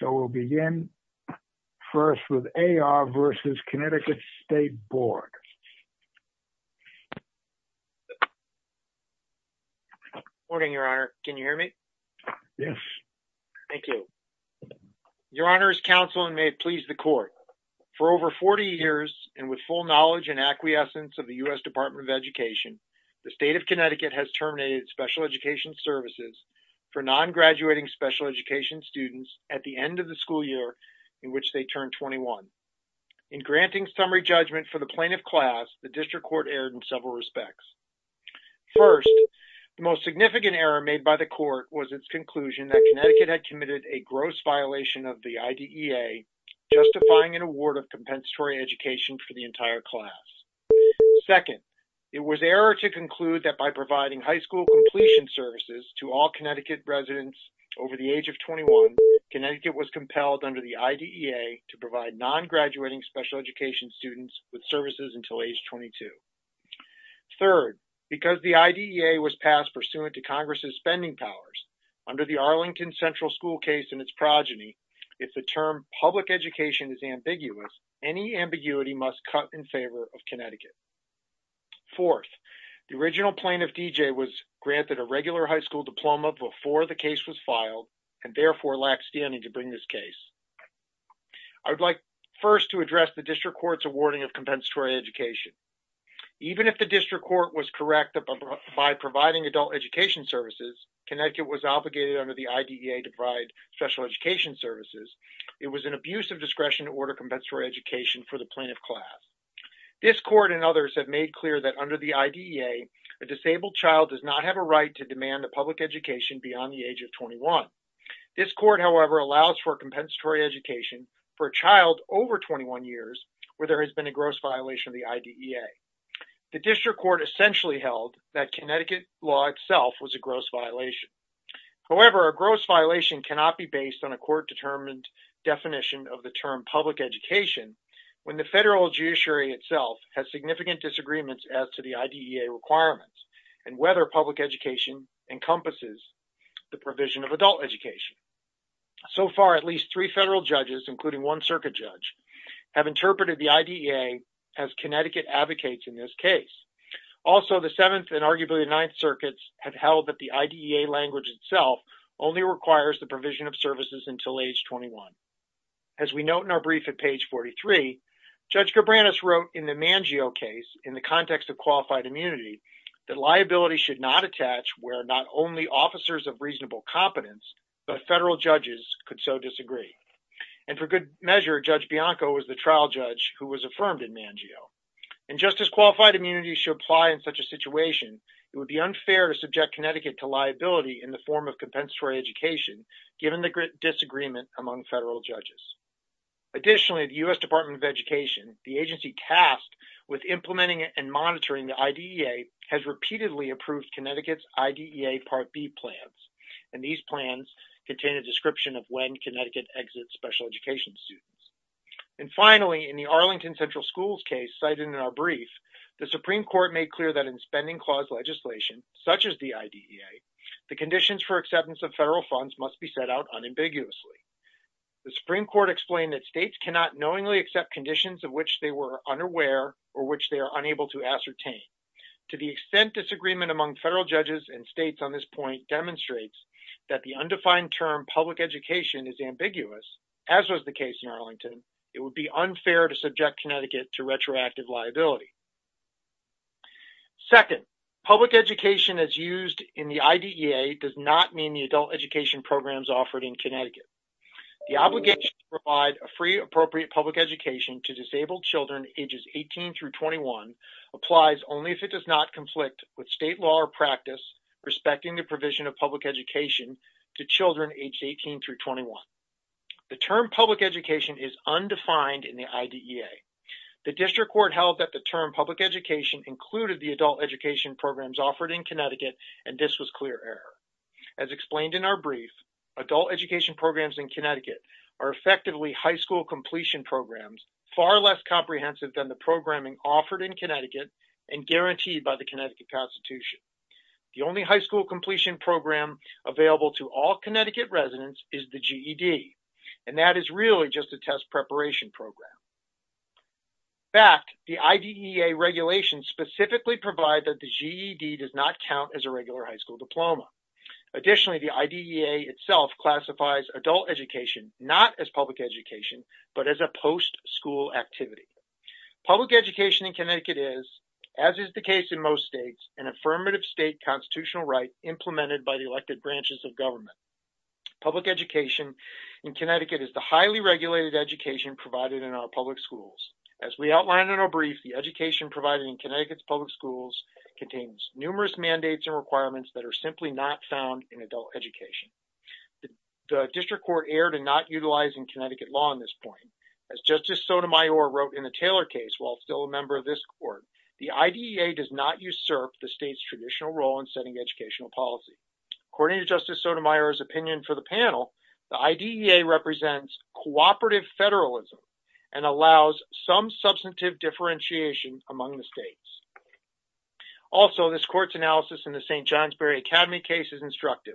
So we'll begin first with A.R. v. Connecticut State Board. Morning, Your Honor. Can you hear me? Yes. Thank you. Your Honor's counsel may please the court. For over 40 years and with full knowledge and acquiescence of the U.S. Department of Education, the state of Connecticut has terminated special education services for non-graduating special education students at the end of the school year in which they turn 21. In granting summary judgment for the plaintiff class, the district court erred in several respects. First, the most significant error made by the court was its conclusion that Connecticut had committed a gross violation of the IDEA justifying an award of compensatory education for the entire class. Second, it was error to conclude that by providing high school completion services to all Connecticut residents over the age of 21, Connecticut was compelled under the IDEA to provide non-graduating special education students with services until age 22. Third, because the IDEA was passed pursuant to Congress's spending powers under the Arlington Central School case and its progeny, if the term public education is ambiguous, Fourth, the original plaintiff D.J. was granted a regular high school diploma before the case was filed and therefore lacked standing to bring this case. I would like first to address the district court's awarding of compensatory education. Even if the district court was correct by providing adult education services, Connecticut was obligated under the IDEA to provide special education services. It was an abuse of discretion to order compensatory education for the plaintiff class. This court and others have made clear that under the IDEA, a disabled child does not have a right to demand a public education beyond the age of 21. This court, however, allows for compensatory education for a child over 21 years where there has been a gross violation of the IDEA. The district court essentially held that Connecticut law itself was a gross violation. However, a gross violation cannot be based on a court-determined definition of the term public education when the federal judiciary itself has significant disagreements as to the IDEA requirements and whether public education encompasses the provision of adult education. So far, at least three federal judges, including one circuit judge, have interpreted the IDEA as Connecticut advocates in this case. Also, the Seventh and arguably the Ninth Circuits have held that the IDEA language itself only requires the provision of services until age 21. As we note in our brief at page 43, Judge Cabranes wrote in the Mangio case in the context of qualified immunity that liability should not attach where not only officers of reasonable competence, but federal judges could so disagree. And for good measure, Judge Bianco was the trial judge who was affirmed in Mangio. And just as qualified immunity should apply in such a situation, it would be unfair to subject Connecticut to liability in the form of compensatory education given the disagreement among federal judges. Additionally, the U.S. Department of Education, the agency tasked with implementing and monitoring the IDEA has repeatedly approved Connecticut's IDEA Part B plans. And these plans contain a description of when Connecticut exits special education students. And finally, in the Arlington Central Schools case cited in our brief, the Supreme Court made clear that in spending clause legislation, such as the IDEA, the conditions for acceptance of federal funds must be set out unambiguously. The Supreme Court explained that states cannot knowingly accept conditions of which they were unaware or which they are unable to ascertain. To the extent disagreement among federal judges and states on this point demonstrates that the undefined term public education is ambiguous, as was the case in Arlington, it would be unfair to subject Connecticut to retroactive liability. Second, public education as used in the IDEA does not mean the adult education programs offered in Connecticut. The obligation to provide a free appropriate public education to disabled children ages 18 through 21 applies only if it does not conflict with state law or practice respecting the provision of public education to children aged 18 through 21. The term public education is undefined in the IDEA. The district court held that the term public education included the adult education programs offered in Connecticut and this was clear error. As explained in our brief, adult education programs in Connecticut are effectively high school completion programs, far less comprehensive than the programming offered in Connecticut and guaranteed by the Connecticut constitution. The only high school completion program available to all Connecticut residents is the GED. And that is really just a test preparation program. Back, the IDEA regulations specifically provide that the GED does not count as a regular high school diploma. Additionally, the IDEA itself classifies adult education, not as public education, but as a post school activity. Public education in Connecticut is, as is the case in most states, an affirmative state constitutional right implemented by the elected branches of government. Public education in Connecticut is the highly regulated education provided in our public schools. As we outlined in our brief, the education provided in Connecticut's public schools contains numerous mandates and requirements that are simply not found in adult education. The district court erred in not utilizing Connecticut law on this point. As Justice Sotomayor wrote in the Taylor case, while still a member of this court, the IDEA does not usurp the state's traditional role in setting educational policy. According to Justice Sotomayor's opinion for the panel, the IDEA represents cooperative federalism and allows some substantive differentiation among the states. Also, this court's analysis in the St. Johnsbury Academy case is instructive.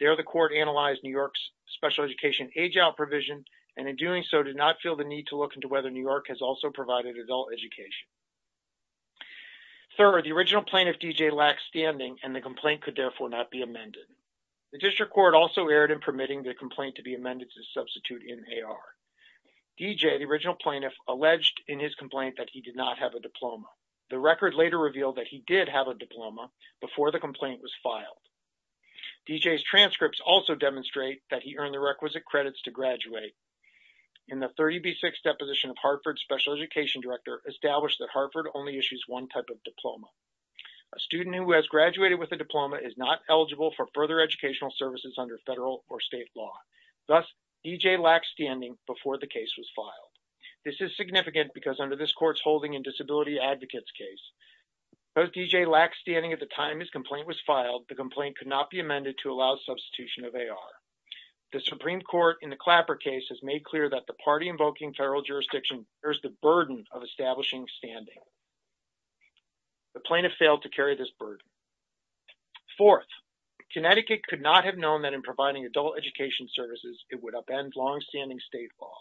There, the court analyzed New York's special education age-out provision, and in doing so, did not feel the need to look into whether New York has also provided adult education. Third, the original plaintiff, D.J., lacks standing, and the complaint could therefore not be amended. The district court also erred in permitting the complaint to be amended to substitute in AR. D.J., the original plaintiff, alleged in his complaint that he did not have a diploma. The record later revealed that he did have a diploma before the complaint was filed. D.J.'s transcripts also demonstrate that he earned the requisite credits to graduate. In the 30B6 deposition of Hartford Special Education Director, established that Hartford only issues one type of diploma. A student who has graduated with a diploma is not eligible for further educational services under federal or state law. Thus, D.J. lacks standing before the case was filed. This is significant because under this court's Holding and Disability Advocates case, because D.J. lacks standing at the time his complaint was filed, the complaint could not be amended to allow substitution of AR. The Supreme Court, in the Clapper case, has made clear that the party-invoking federal jurisdiction bears the burden of establishing standing. The plaintiff failed to carry this burden. Fourth, Connecticut could not have known that in providing adult education services, it would upend longstanding state law.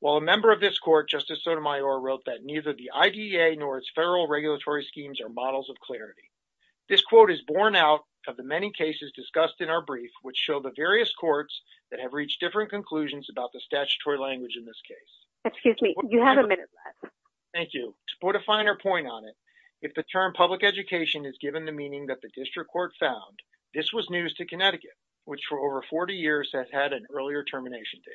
While a member of this court, Justice Sotomayor, wrote that neither the IDEA nor its federal regulatory schemes are models of clarity. This quote is borne out of the many cases discussed in our brief, which show the various courts that have reached different conclusions about the statutory language in this case. Excuse me, you have a minute left. Thank you. To put a finer point on it, if the term public education is given the meaning that the district court found, this was news to Connecticut, which for over 40 years has had an earlier termination date.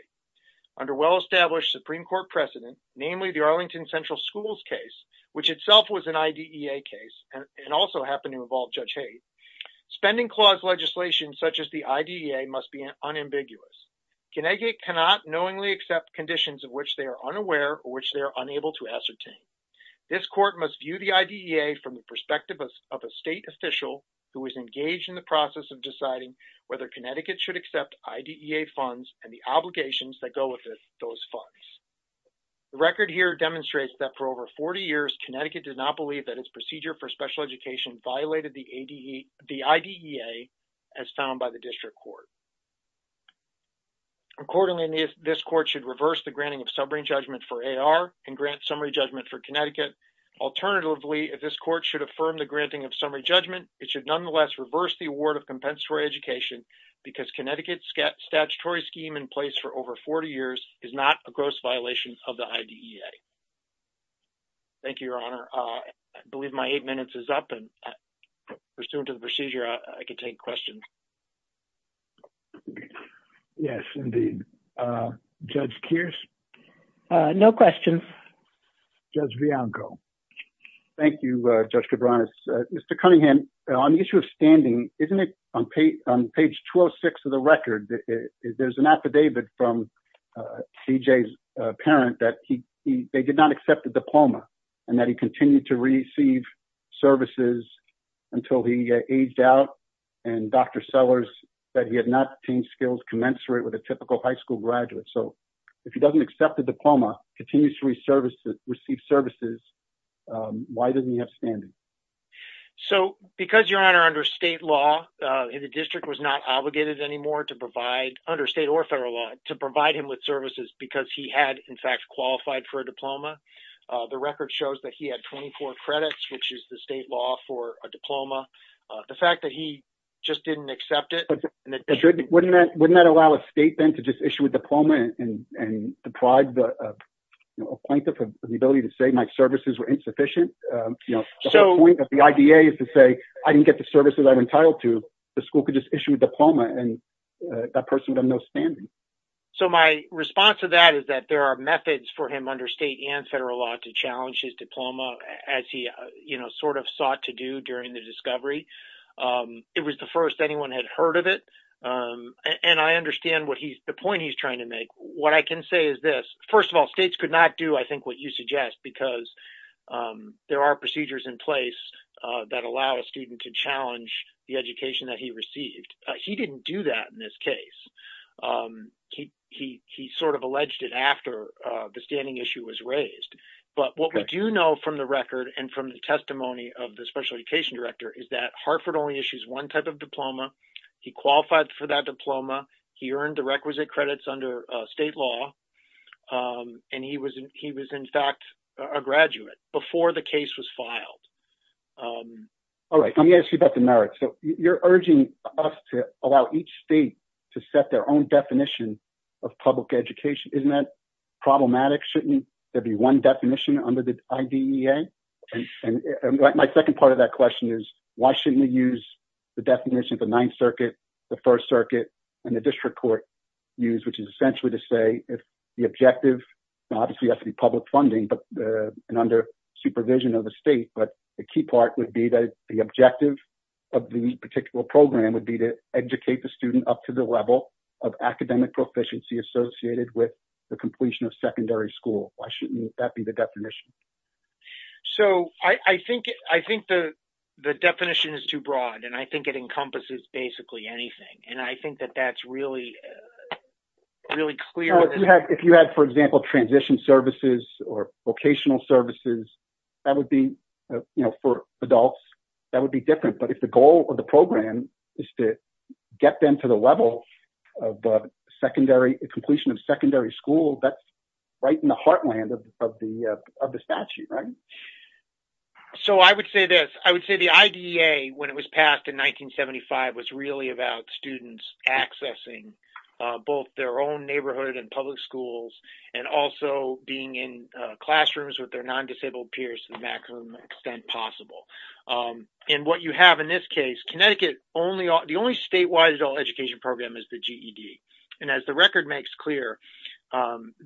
Under well-established Supreme Court precedent, namely the Arlington Central Schools case, which itself was an IDEA case and also happened to involve Judge Hayes, spending clause legislation such as the IDEA must be unambiguous. Connecticut cannot knowingly accept conditions of which they are unaware or which they are unable to ascertain. This court must view the IDEA from the perspective of a state official who is engaged in the process of deciding whether Connecticut should accept IDEA funds and the obligations that go with those funds. The record here demonstrates that for over 40 years, Connecticut did not believe that its procedure for special education violated the IDEA as found by the district court. Accordingly, this court should reverse the granting of summary judgment for AR and grant summary judgment for Connecticut. Alternatively, if this court should affirm the granting of summary judgment, it should nonetheless reverse the award of compensatory education because Connecticut's statutory scheme in place for over 40 years is not a gross violation of the IDEA. Thank you, Your Honor. I believe my eight minutes is up and pursuant to the procedure, I can take questions. Yes, indeed. Judge Kearse? No questions. Judge Bianco. Thank you, Judge Cabranes. Mr. Cunningham, on the issue of standing, isn't it on page 206 of the record that there's an affidavit from CJ's parent that they did not accept the diploma and that he continued to receive services until he aged out and Dr. Sellers that he had not obtained skills commensurate with a typical high school graduate. So if he doesn't accept the diploma, continues to receive services, why doesn't he have standing? So because, Your Honor, under state law, the district was not obligated anymore under state or federal law to provide him with services because he had, in fact, qualified for a diploma. The record shows that he had 24 credits, which is the state law for a diploma. The fact that he just didn't accept it. Wouldn't that allow a state then to just issue a diploma and deprive the plaintiff of the ability to say my services were insufficient? So the point of the IDEA is to say, I didn't get the services I'm entitled to. The school could just issue a diploma and that person would have no standing. So my response to that is that there are methods for him under state and federal law to challenge his diploma as he sort of sought to do during the discovery. It was the first anyone had heard of it. And I understand the point he's trying to make. What I can say is this, first of all, states could not do, I think, what you suggest because there are procedures in place that allow a student to challenge the education that he received. He didn't do that in this case. He sort of alleged it after the standing issue was raised. But what we do know from the record and from the testimony of the special education director is that Hartford only issues one type of diploma. He qualified for that diploma. He earned the requisite credits under state law. And he was in fact a graduate before the case was filed. All right, let me ask you about the merits. So you're urging us to allow each state to set their own definition of public education. Isn't that problematic? Shouldn't there be one definition under the IDEA? My second part of that question is why shouldn't we use the definition of the Ninth Circuit, the First Circuit and the district court use, which is essentially to say if the objective, obviously has to be public funding but under supervision of the state, but the key part would be that the objective of the particular program would be to educate the student up to the level of academic proficiency associated with the completion of secondary school. Why shouldn't that be the definition? So I think the definition is too broad and I think it encompasses basically anything. And I think that that's really clear. If you had, for example, transition services or vocational services, that would be for adults, that would be different. But if the goal of the program is to get them to the level of the completion of secondary school, that's right in the heartland of the statute, right? So I would say this. I would say the IDEA when it was passed in 1975 was really about students accessing both their own neighborhood and public schools and also being in classrooms with their non-disabled peers to the maximum extent possible. And what you have in this case, Connecticut, the only statewide adult education program is the GED. And as the record makes clear,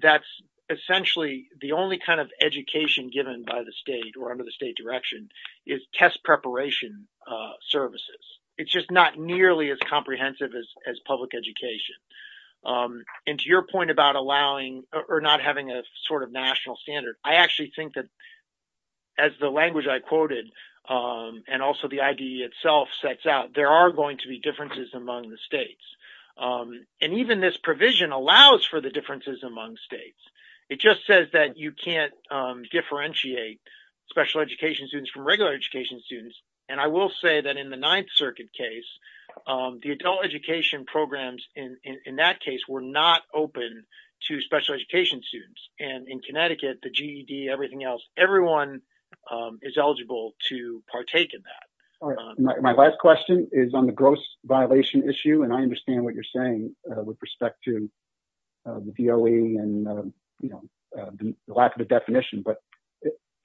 that's essentially the only kind of education given by the state or under the state direction is test preparation services. It's just not nearly as comprehensive as public education. And to your point about allowing or not having a sort of national standard, I actually think that as the language I quoted and also the IDEA itself sets out, there are going to be differences among the states. And even this provision allows for the differences among states. It just says that you can't differentiate special education students from regular education students. And I will say that in the Ninth Circuit case, the adult education programs in that case were not open to special education students. And in Connecticut, the GED, everything else, everyone is eligible to partake in that. My last question is on the gross violation issue. And I understand what you're saying with respect to the DOE and the lack of a definition, but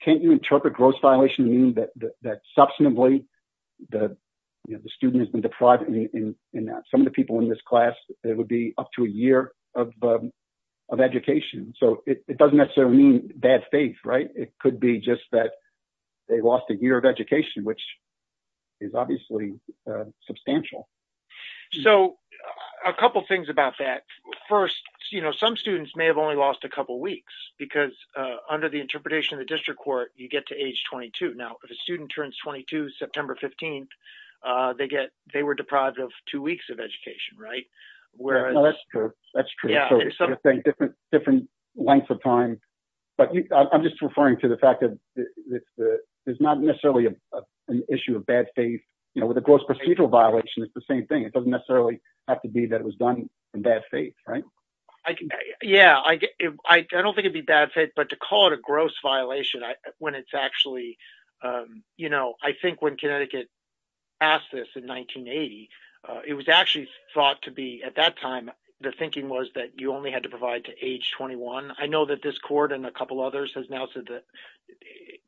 can't you interpret gross violation meaning that substantively the student has been deprived in that. Some of the people in this class, it would be up to a year of education. So it doesn't necessarily mean bad faith, right? It could be just that they lost a year of education, which is obviously substantial. So a couple of things about that. First, some students may have only lost a couple of weeks because under the interpretation of the district court, you get to age 22. Now, if a student turns 22, September 15th, they were deprived of two weeks of education, right? Whereas- No, that's true, that's true. So you're saying different lengths of time, but I'm just referring to the fact that it's not necessarily an issue of bad faith. With a gross procedural violation, it's the same thing. It doesn't necessarily have to be that it was done in bad faith, right? Yeah, I don't think it'd be bad faith, but to call it a gross violation when it's actually, I think when Connecticut asked this in 1980, it was actually thought to be at that time, the thinking was that you only had to provide to age 21. I know that this court and a couple others has now said that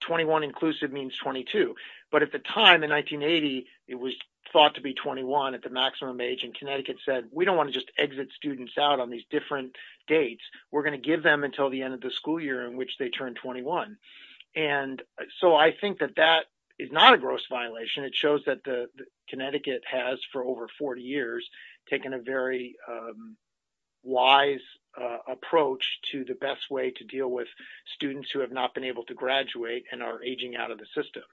21 inclusive means 22. But at the time in 1980, it was thought to be 21 at the maximum age. And Connecticut said, we don't wanna just exit students out on these different dates. We're gonna give them until the end of the school year in which they turn 21. And so I think that that is not a gross violation. It shows that Connecticut has for over 40 years taken a very wise approach to the best way to deal with students who have not been able to graduate and are aging out of the system.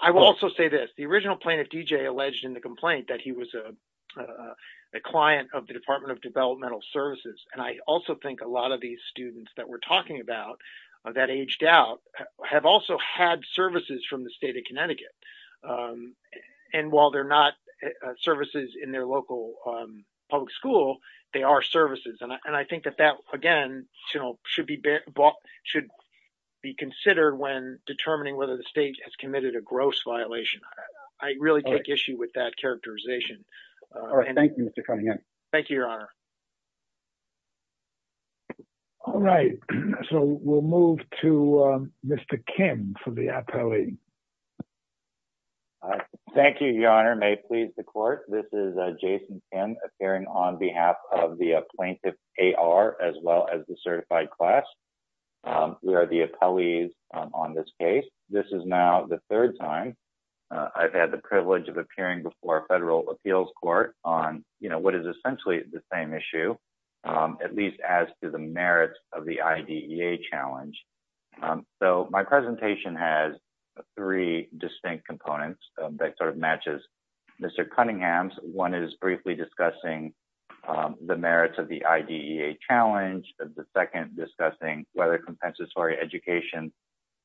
I will also say this, the original plaintiff DJ alleged in the complaint that he was a client of the Department of Developmental Services. And I also think a lot of these students have also had services from the state of Connecticut. And while they're not services in their local public school, they are services. And I think that that again should be considered when determining whether the state has committed a gross violation. I really take issue with that characterization. All right, thank you for coming in. Thank you, your honor. All right, so we'll move to Mr. Kim for the appellee. All right, thank you, your honor. May it please the court. This is Jason Kim appearing on behalf of the plaintiff AR as well as the certified class. We are the appellees on this case. This is now the third time I've had the privilege of appearing before a federal appeals court on what is essentially the same issue, at least as to the merits of the IDEA challenge. So my presentation has three distinct components that sort of matches Mr. Cunningham's. One is briefly discussing the merits of the IDEA challenge. The second discussing whether compensatory education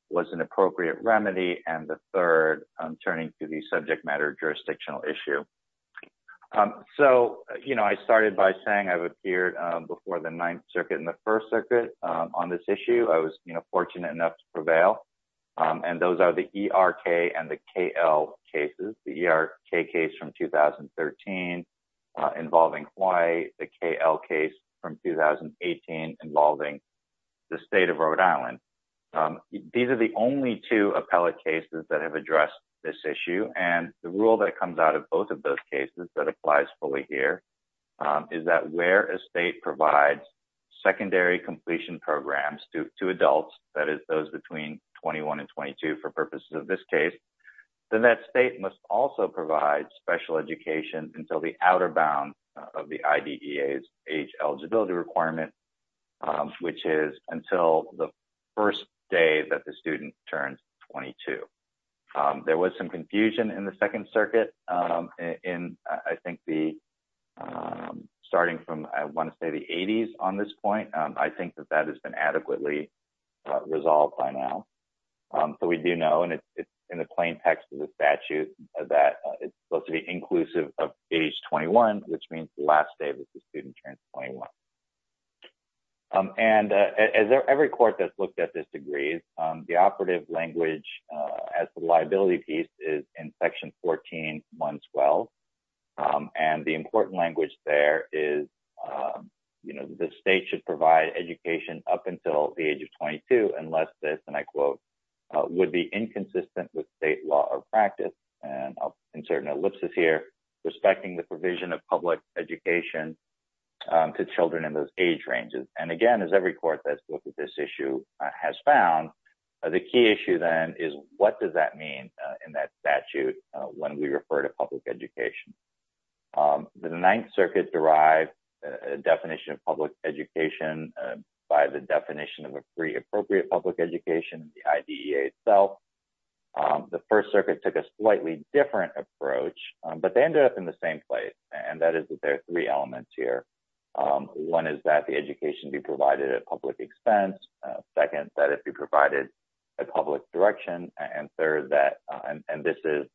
was an appropriate remedy. And the third turning to the subject matter jurisdictional issue. So I started by saying I've appeared before the Ninth Circuit and the First Circuit on this issue. I was fortunate enough to prevail. And those are the ERK and the KL cases. The ERK case from 2013 involving Hawaii, the KL case from 2018 involving the state of Rhode Island. These are the only two appellate cases that have addressed this issue. And the rule that comes out of both of those cases that applies fully here is that where a state provides secondary completion programs to adults, that is those between 21 and 22 for purposes of this case, then that state must also provide special education until the outer bound of the IDEA's age eligibility requirement, which is until the first day that the student turns 22. There was some confusion in the Second Circuit in I think the, starting from I wanna say the 80s on this point, I think that that has been adequately resolved by now. So we do know, and it's in the plain text of the statute, that it's supposed to be inclusive of age 21, which means the last day that the student turns 21. And as every court that's looked at this agrees, the operative language as the liability piece is in section 14.112. And the important language there is, the state should provide education up until the age of 22, unless this, and I quote, would be inconsistent with state law or practice. And I'll insert an ellipsis here, respecting the provision of public education to children in those age ranges. And again, as every court that's looked at this issue has found, the key issue then is what does that mean in that statute when we refer to public education? The Ninth Circuit derived a definition of public education by the definition of a free appropriate public education, the IDEA itself. The First Circuit took a slightly different approach, but they ended up in the same place. And that is that there are three elements here. One is that the education be provided at public expense. Second, that it be provided at public direction. And third, that, and this is,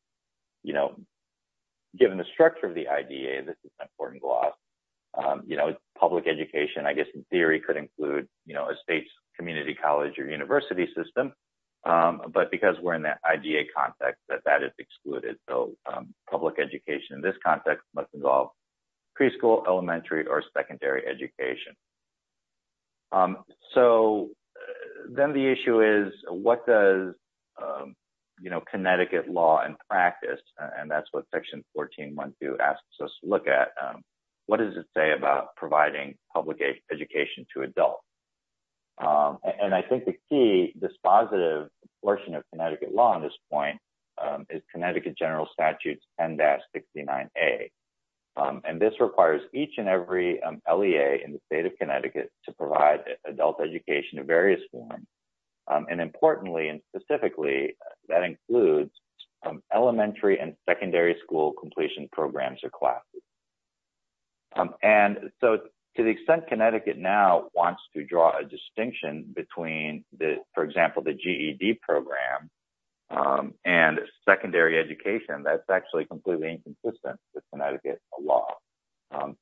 given the structure of the IDEA, this is an important gloss. Public education, I guess in theory, could include a state's community college or university system. But because we're in that IDEA context, that that is excluded. So public education in this context must involve preschool, elementary, or secondary education. So then the issue is what does Connecticut law and practice, and that's what section 14.1.2 asks us to look at, what does it say about providing public education to adults? And I think the key, this positive portion of Connecticut law on this point is Connecticut General Statute 10-69A. And this requires each and every LEA in the state of Connecticut to provide adult education of various forms. And importantly and specifically, that includes elementary and secondary school completion programs or classes. And so to the extent Connecticut now wants to draw a distinction between, for example, the GED program and secondary education, that's actually completely inconsistent with Connecticut law.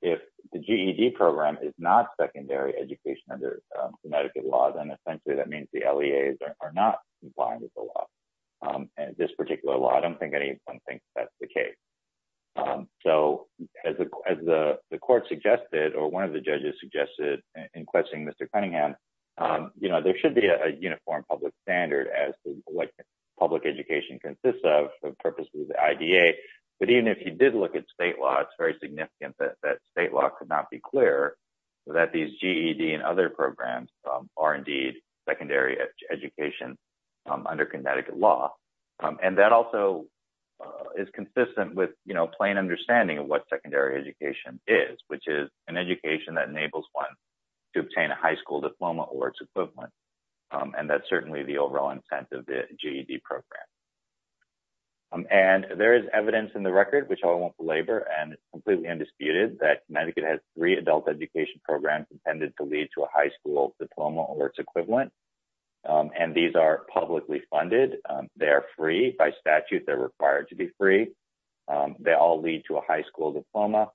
If the GED program is not secondary education under Connecticut law, then essentially that means the LEAs are not complying with the law. And this particular law, I don't think anyone thinks that's the case. So as the court suggested, or one of the judges suggested in questioning Mr. Cunningham, there should be a uniform public standard as public education consists of for purposes of the IDEA. But even if you did look at state law, it's very significant that state law could not be clear that these GED and other programs are indeed secondary education under Connecticut law. And that also is consistent with plain understanding of what secondary education is, which is an education that enables one to obtain a high school diploma or its equivalent. And that's certainly the overall intent of the GED program. And there is evidence in the record, which I won't belabor and it's completely undisputed that Connecticut has three adult education programs intended to lead to a high school diploma or its equivalent. And these are publicly funded. They are free by statute. They're required to be free. They all lead to a high school diploma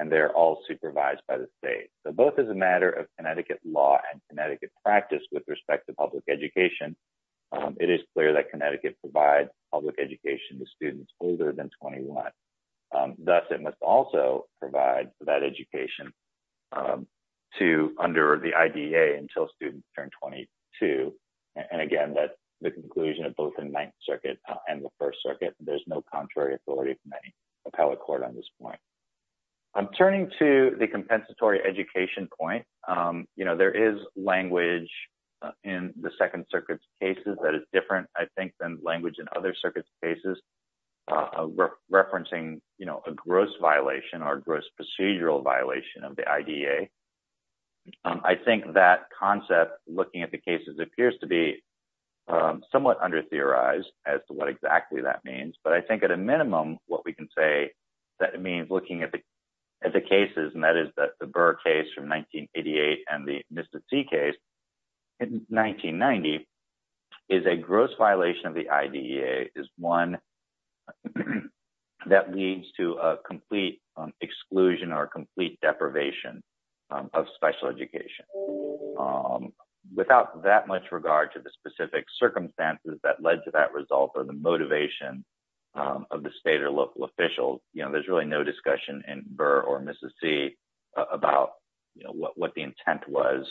and they're all supervised by the state. So both as a matter of Connecticut law and Connecticut practice with respect to public education, it is clear that Connecticut provides public education to students older than 21. Thus it must also provide that education to under the IDA until students turn 22. And again, that's the conclusion of both in Ninth Circuit and the First Circuit. There's no contrary authority from any appellate court on this point. I'm turning to the compensatory education point. There is language in the Second Circuit's cases that is different, I think, than language in other circuits cases referencing a gross violation or gross procedural violation of the IDA. I think that concept, looking at the cases, appears to be somewhat under-theorized as to what exactly that means. But I think at a minimum, what we can say that it means looking at the cases, and that is the Burr case from 1988 and the Mista C case in 1990 is a gross violation of the IDA is one that leads to a complete exclusion or a complete deprivation of special education. Without that much regard to the specific circumstances that led to that result or the motivation of the state or local officials, there's really no discussion in Burr or Mista C about what the intent was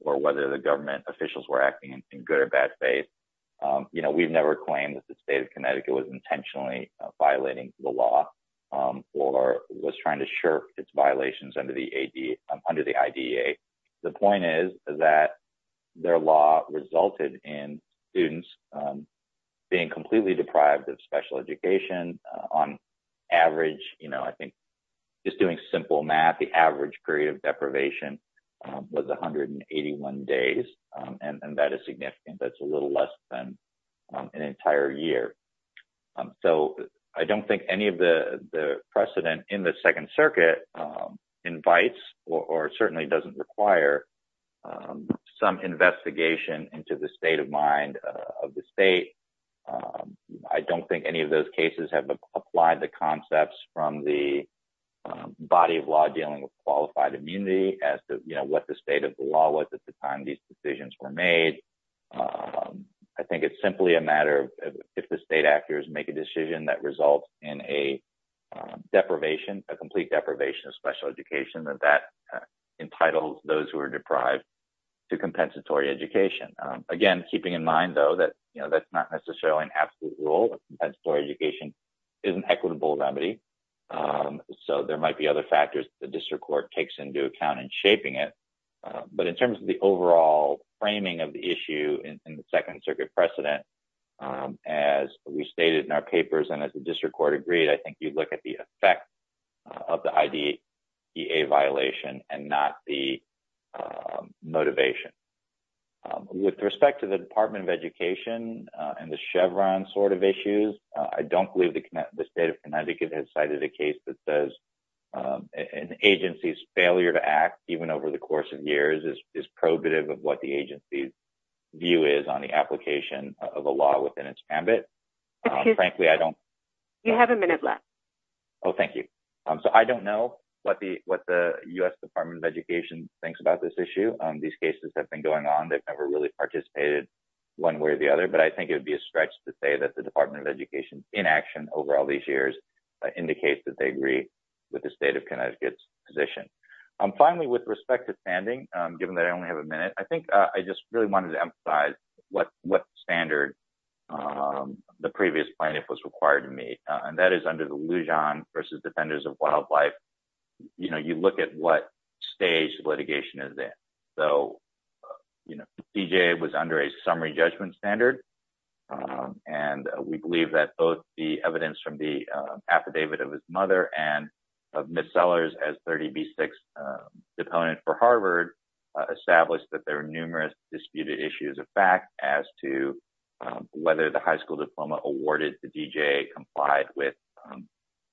or whether the government officials were acting in good or bad faith. We've never claimed that the state of Connecticut was intentionally violating the law or was trying to shirk its violations under the IDA. The point is that their law resulted in students being completely deprived of special education on average. I think just doing simple math, the average period of deprivation was 181 days, and that is significant. That's a little less than an entire year. So I don't think any of the precedent in the Second Circuit invites or certainly doesn't require some investigation into the state of mind of the state. I don't think any of those cases have applied the concepts from the body of law dealing with qualified immunity as to what the state of the law was at the time these decisions were made. I think it's simply a matter of if the state actors make a decision that results in a deprivation, a complete deprivation of special education, that that entitles those who are deprived to compensatory education. Again, keeping in mind, though, that that's not necessarily an absolute rule. Compensatory education is an equitable remedy. So there might be other factors the district court takes into account in shaping it. But in terms of the overall framing of the issue in the Second Circuit precedent, as we stated in our papers and as the district court agreed, I think you'd look at the effect of the IDEA violation and not the motivation. With respect to the Department of Education and the Chevron sort of issues, I don't believe the state of Connecticut has cited a case that says an agency's failure to act even over the course of years is probative of what the agency's view is on the application of a law within its ambit. Frankly, I don't- You have a minute left. Oh, thank you. So I don't know what the U.S. Department of Education thinks about this issue. These cases have been going on. They've never really participated one way or the other, but I think it would be a stretch to say that the Department of Education's inaction over all these years indicates that they agree with the state of Connecticut's position. Finally, with respect to standing, given that I only have a minute, I think I just really wanted to emphasize what standard the previous plaintiff was required to meet. And that is under the Lujan versus Defenders of Wildlife. You look at what stage litigation is in. So, you know, DJA was under a summary judgment standard. And we believe that both the evidence from the affidavit of his mother and of missellers as 30B6 deponent for Harvard established that there were numerous disputed issues of fact as to whether the high school diploma awarded to DJA complied with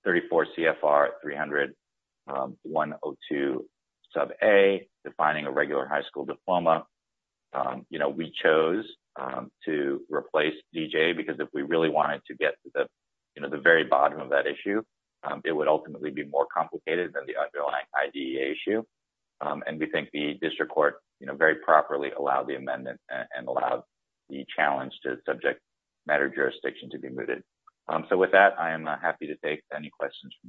34 CFR 300-102 sub A, defining a regular high school diploma. You know, we chose to replace DJA because if we really wanted to get to the, you know, the very bottom of that issue, it would ultimately be more complicated than the underlying IDEA issue. And we think the district court, you know, very properly allowed the amendment and allowed the challenge to subject matter jurisdiction to be mooted. So with that, I am happy to take any questions from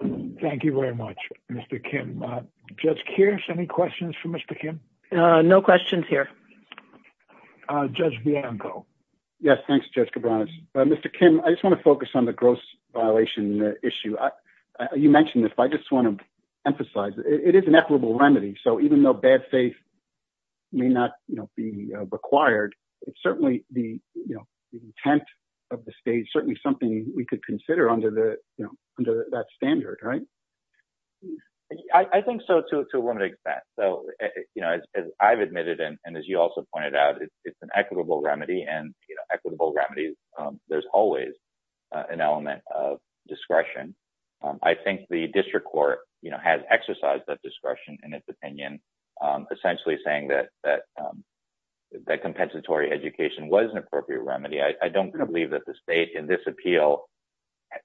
the panel. Thank you very much, Mr. Kim. Judge Keirs, any questions for Mr. Kim? No questions here. Judge Bianco. Yes, thanks, Judge Cabranes. Mr. Kim, I just wanna focus on the gross violation issue. You mentioned this, but I just wanna emphasize it is an equitable remedy. So even though bad faith may not be required, it's certainly the intent of the state, certainly something we could consider under that standard, right? I think so to a limited extent. So, you know, as I've admitted, and as you also pointed out, it's an equitable remedy and equitable remedies, there's always an element of discretion. I think the district court, you know, has exercised that discretion in its opinion, essentially saying that compensatory education was an appropriate remedy. I don't believe that the state in this appeal,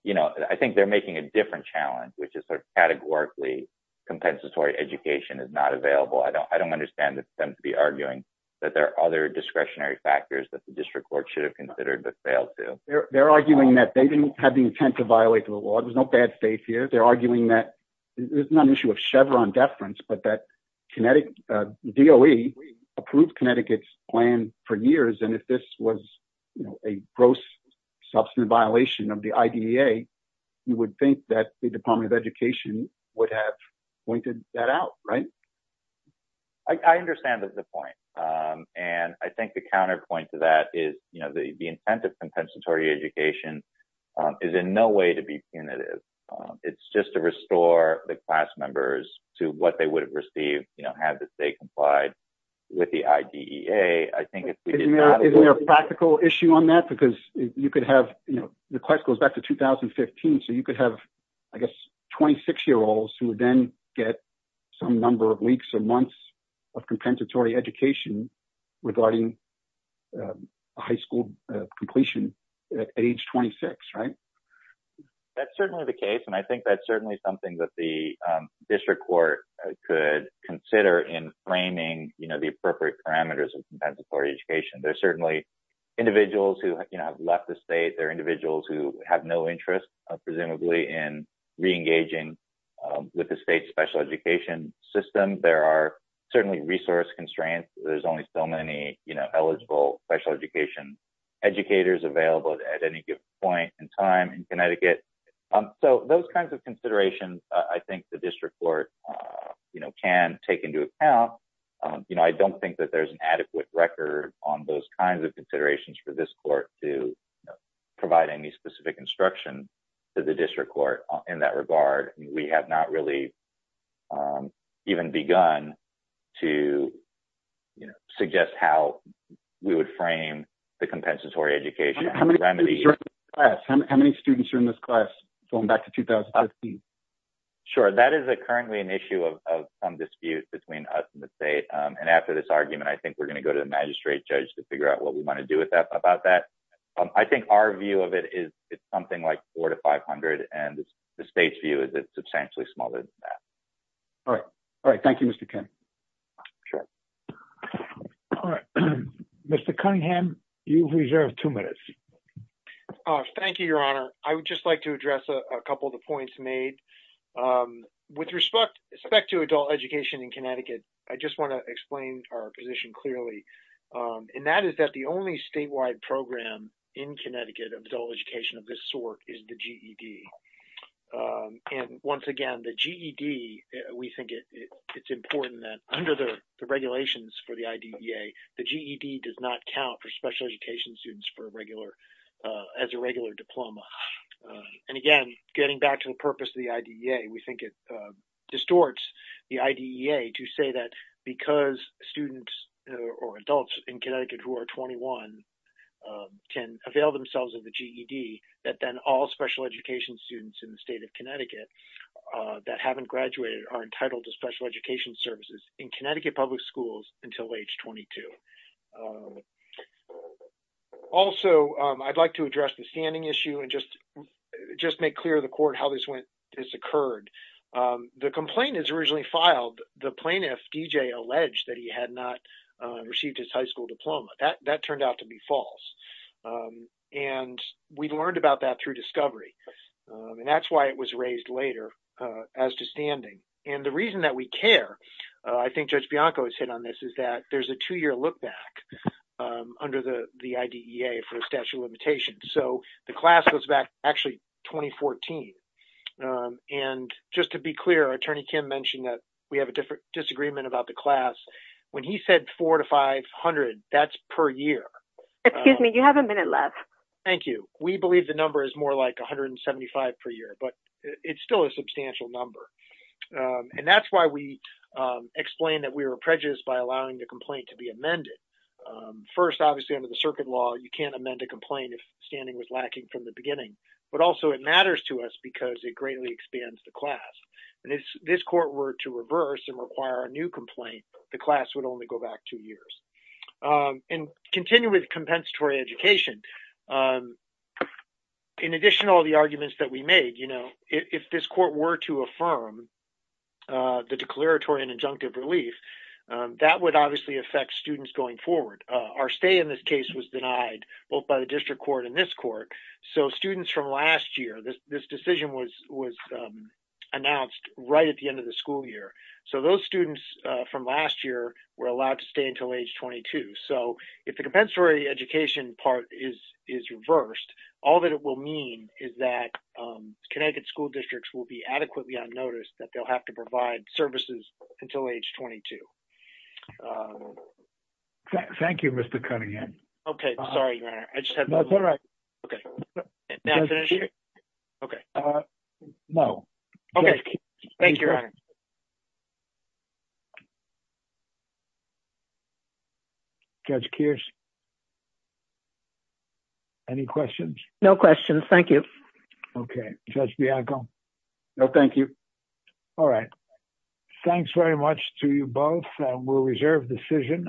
you know, I think they're making a different challenge, which is categorically compensatory education is not available. I don't understand them to be arguing that there are other discretionary factors that the district court should have considered but failed to. They're arguing that they didn't have the intent to violate the law. There's no bad faith here. They're arguing that it's not an issue of Chevron deference, but that DOE approved Connecticut's plan for years. And if this was a gross substantive violation of the IDEA, you would think that the Department of Education would have pointed that out, right? I understand the point. And I think the counterpoint to that is, you know, the intent of compensatory education is in no way to be punitive. It's just to restore the class members to what they would have received, you know, have the state complied with the IDEA. I think it's- Isn't there a practical issue on that? Because you could have, you know, the class goes back to 2015. So you could have, I guess, 26 year olds who would then get some number of weeks or months of compensatory education regarding a high school completion at age 26, right? That's certainly the case. And I think that's certainly something that the district court could consider in framing, you know, the appropriate parameters of compensatory education. There are certainly individuals who have left the state. There are individuals who have no interest, presumably, in re-engaging with the state's special education system. There are certainly resource constraints. There's only so many, you know, eligible special education educators available at any given point in time in Connecticut. So those kinds of considerations, I think the district court, you know, can take into account. You know, I don't think that there's an adequate record on those kinds of considerations for this court to provide any specific instruction to the district court in that regard. We have not really even begun to, you know, suggest how we would frame the compensatory education remedy. How many students are in this class going back to 2015? Sure, that is currently an issue of some dispute between us and the state. And after this argument, I think we're going to go to the magistrate judge to figure out what we want to do with that, about that. I think our view of it is it's something like four to 500. And the state's view is it's substantially smaller than that. All right. All right. Thank you, Mr. Ken. Sure. All right. Mr. Cunningham, you've reserved two minutes. Thank you, Your Honor. I would just like to address a couple of the points made. With respect to adult education in Connecticut, I just want to explain our position clearly. And that is that the only statewide program in Connecticut of adult education of this sort is the GED. And once again, the GED, we think it's important that under the regulations for the IDEA, the GED does not count for special education students as a regular diploma. And again, getting back to the purpose of the IDEA, we think it distorts the IDEA to say that because students or adults in Connecticut who are 21 can avail themselves of the GED, that then all special education students in the state of Connecticut that haven't graduated are entitled to special education services in Connecticut public schools until age 22. Also, I'd like to address the standing issue and just make clear to the court how this occurred. The complaint is originally filed, the plaintiff, D.J., alleged that he had not received his high school diploma. That turned out to be false. And we've learned about that through discovery. And that's why it was raised later as to standing. And the reason that we care, I think Judge Bianco has hit on this, is that there's a two-year look back under the IDEA for a statute of limitations. So the class goes back, actually, 2014. And just to be clear, Attorney Kim mentioned that we have a disagreement about the class. When he said four to 500, that's per year. Excuse me, you have a minute left. Thank you. We believe the number is more like 175 per year, but it's still a substantial number. And that's why we explain that we were prejudiced by allowing the complaint to be amended. First, obviously, under the circuit law, you can't amend a complaint if standing was lacking from the beginning. But also, it matters to us because it greatly expands the class. And if this court were to reverse and require a new complaint, the class would only go back two years. And continue with compensatory education. In addition to all the arguments that we made, if this court were to affirm the declaratory and injunctive relief, that would obviously affect students going forward. Our stay in this case was denied, both by the district court and this court. So students from last year, this decision was announced right at the end of the school year. So those students from last year were allowed to stay until age 22. So if the compensatory education part is reversed, all that it will mean is that Connecticut school districts will be adequately unnoticed that they'll have to provide services until age 22. Thank you. Thank you, Mr. Cunningham. Okay, sorry, your honor. I just had- No, it's all right. Okay. May I finish here? Okay. No. Okay. Thank you, your honor. Judge Kears. Any questions? No questions, thank you. Okay. Judge Bianco. No, thank you. All right. Thanks very much to you both. We'll reserve the decision.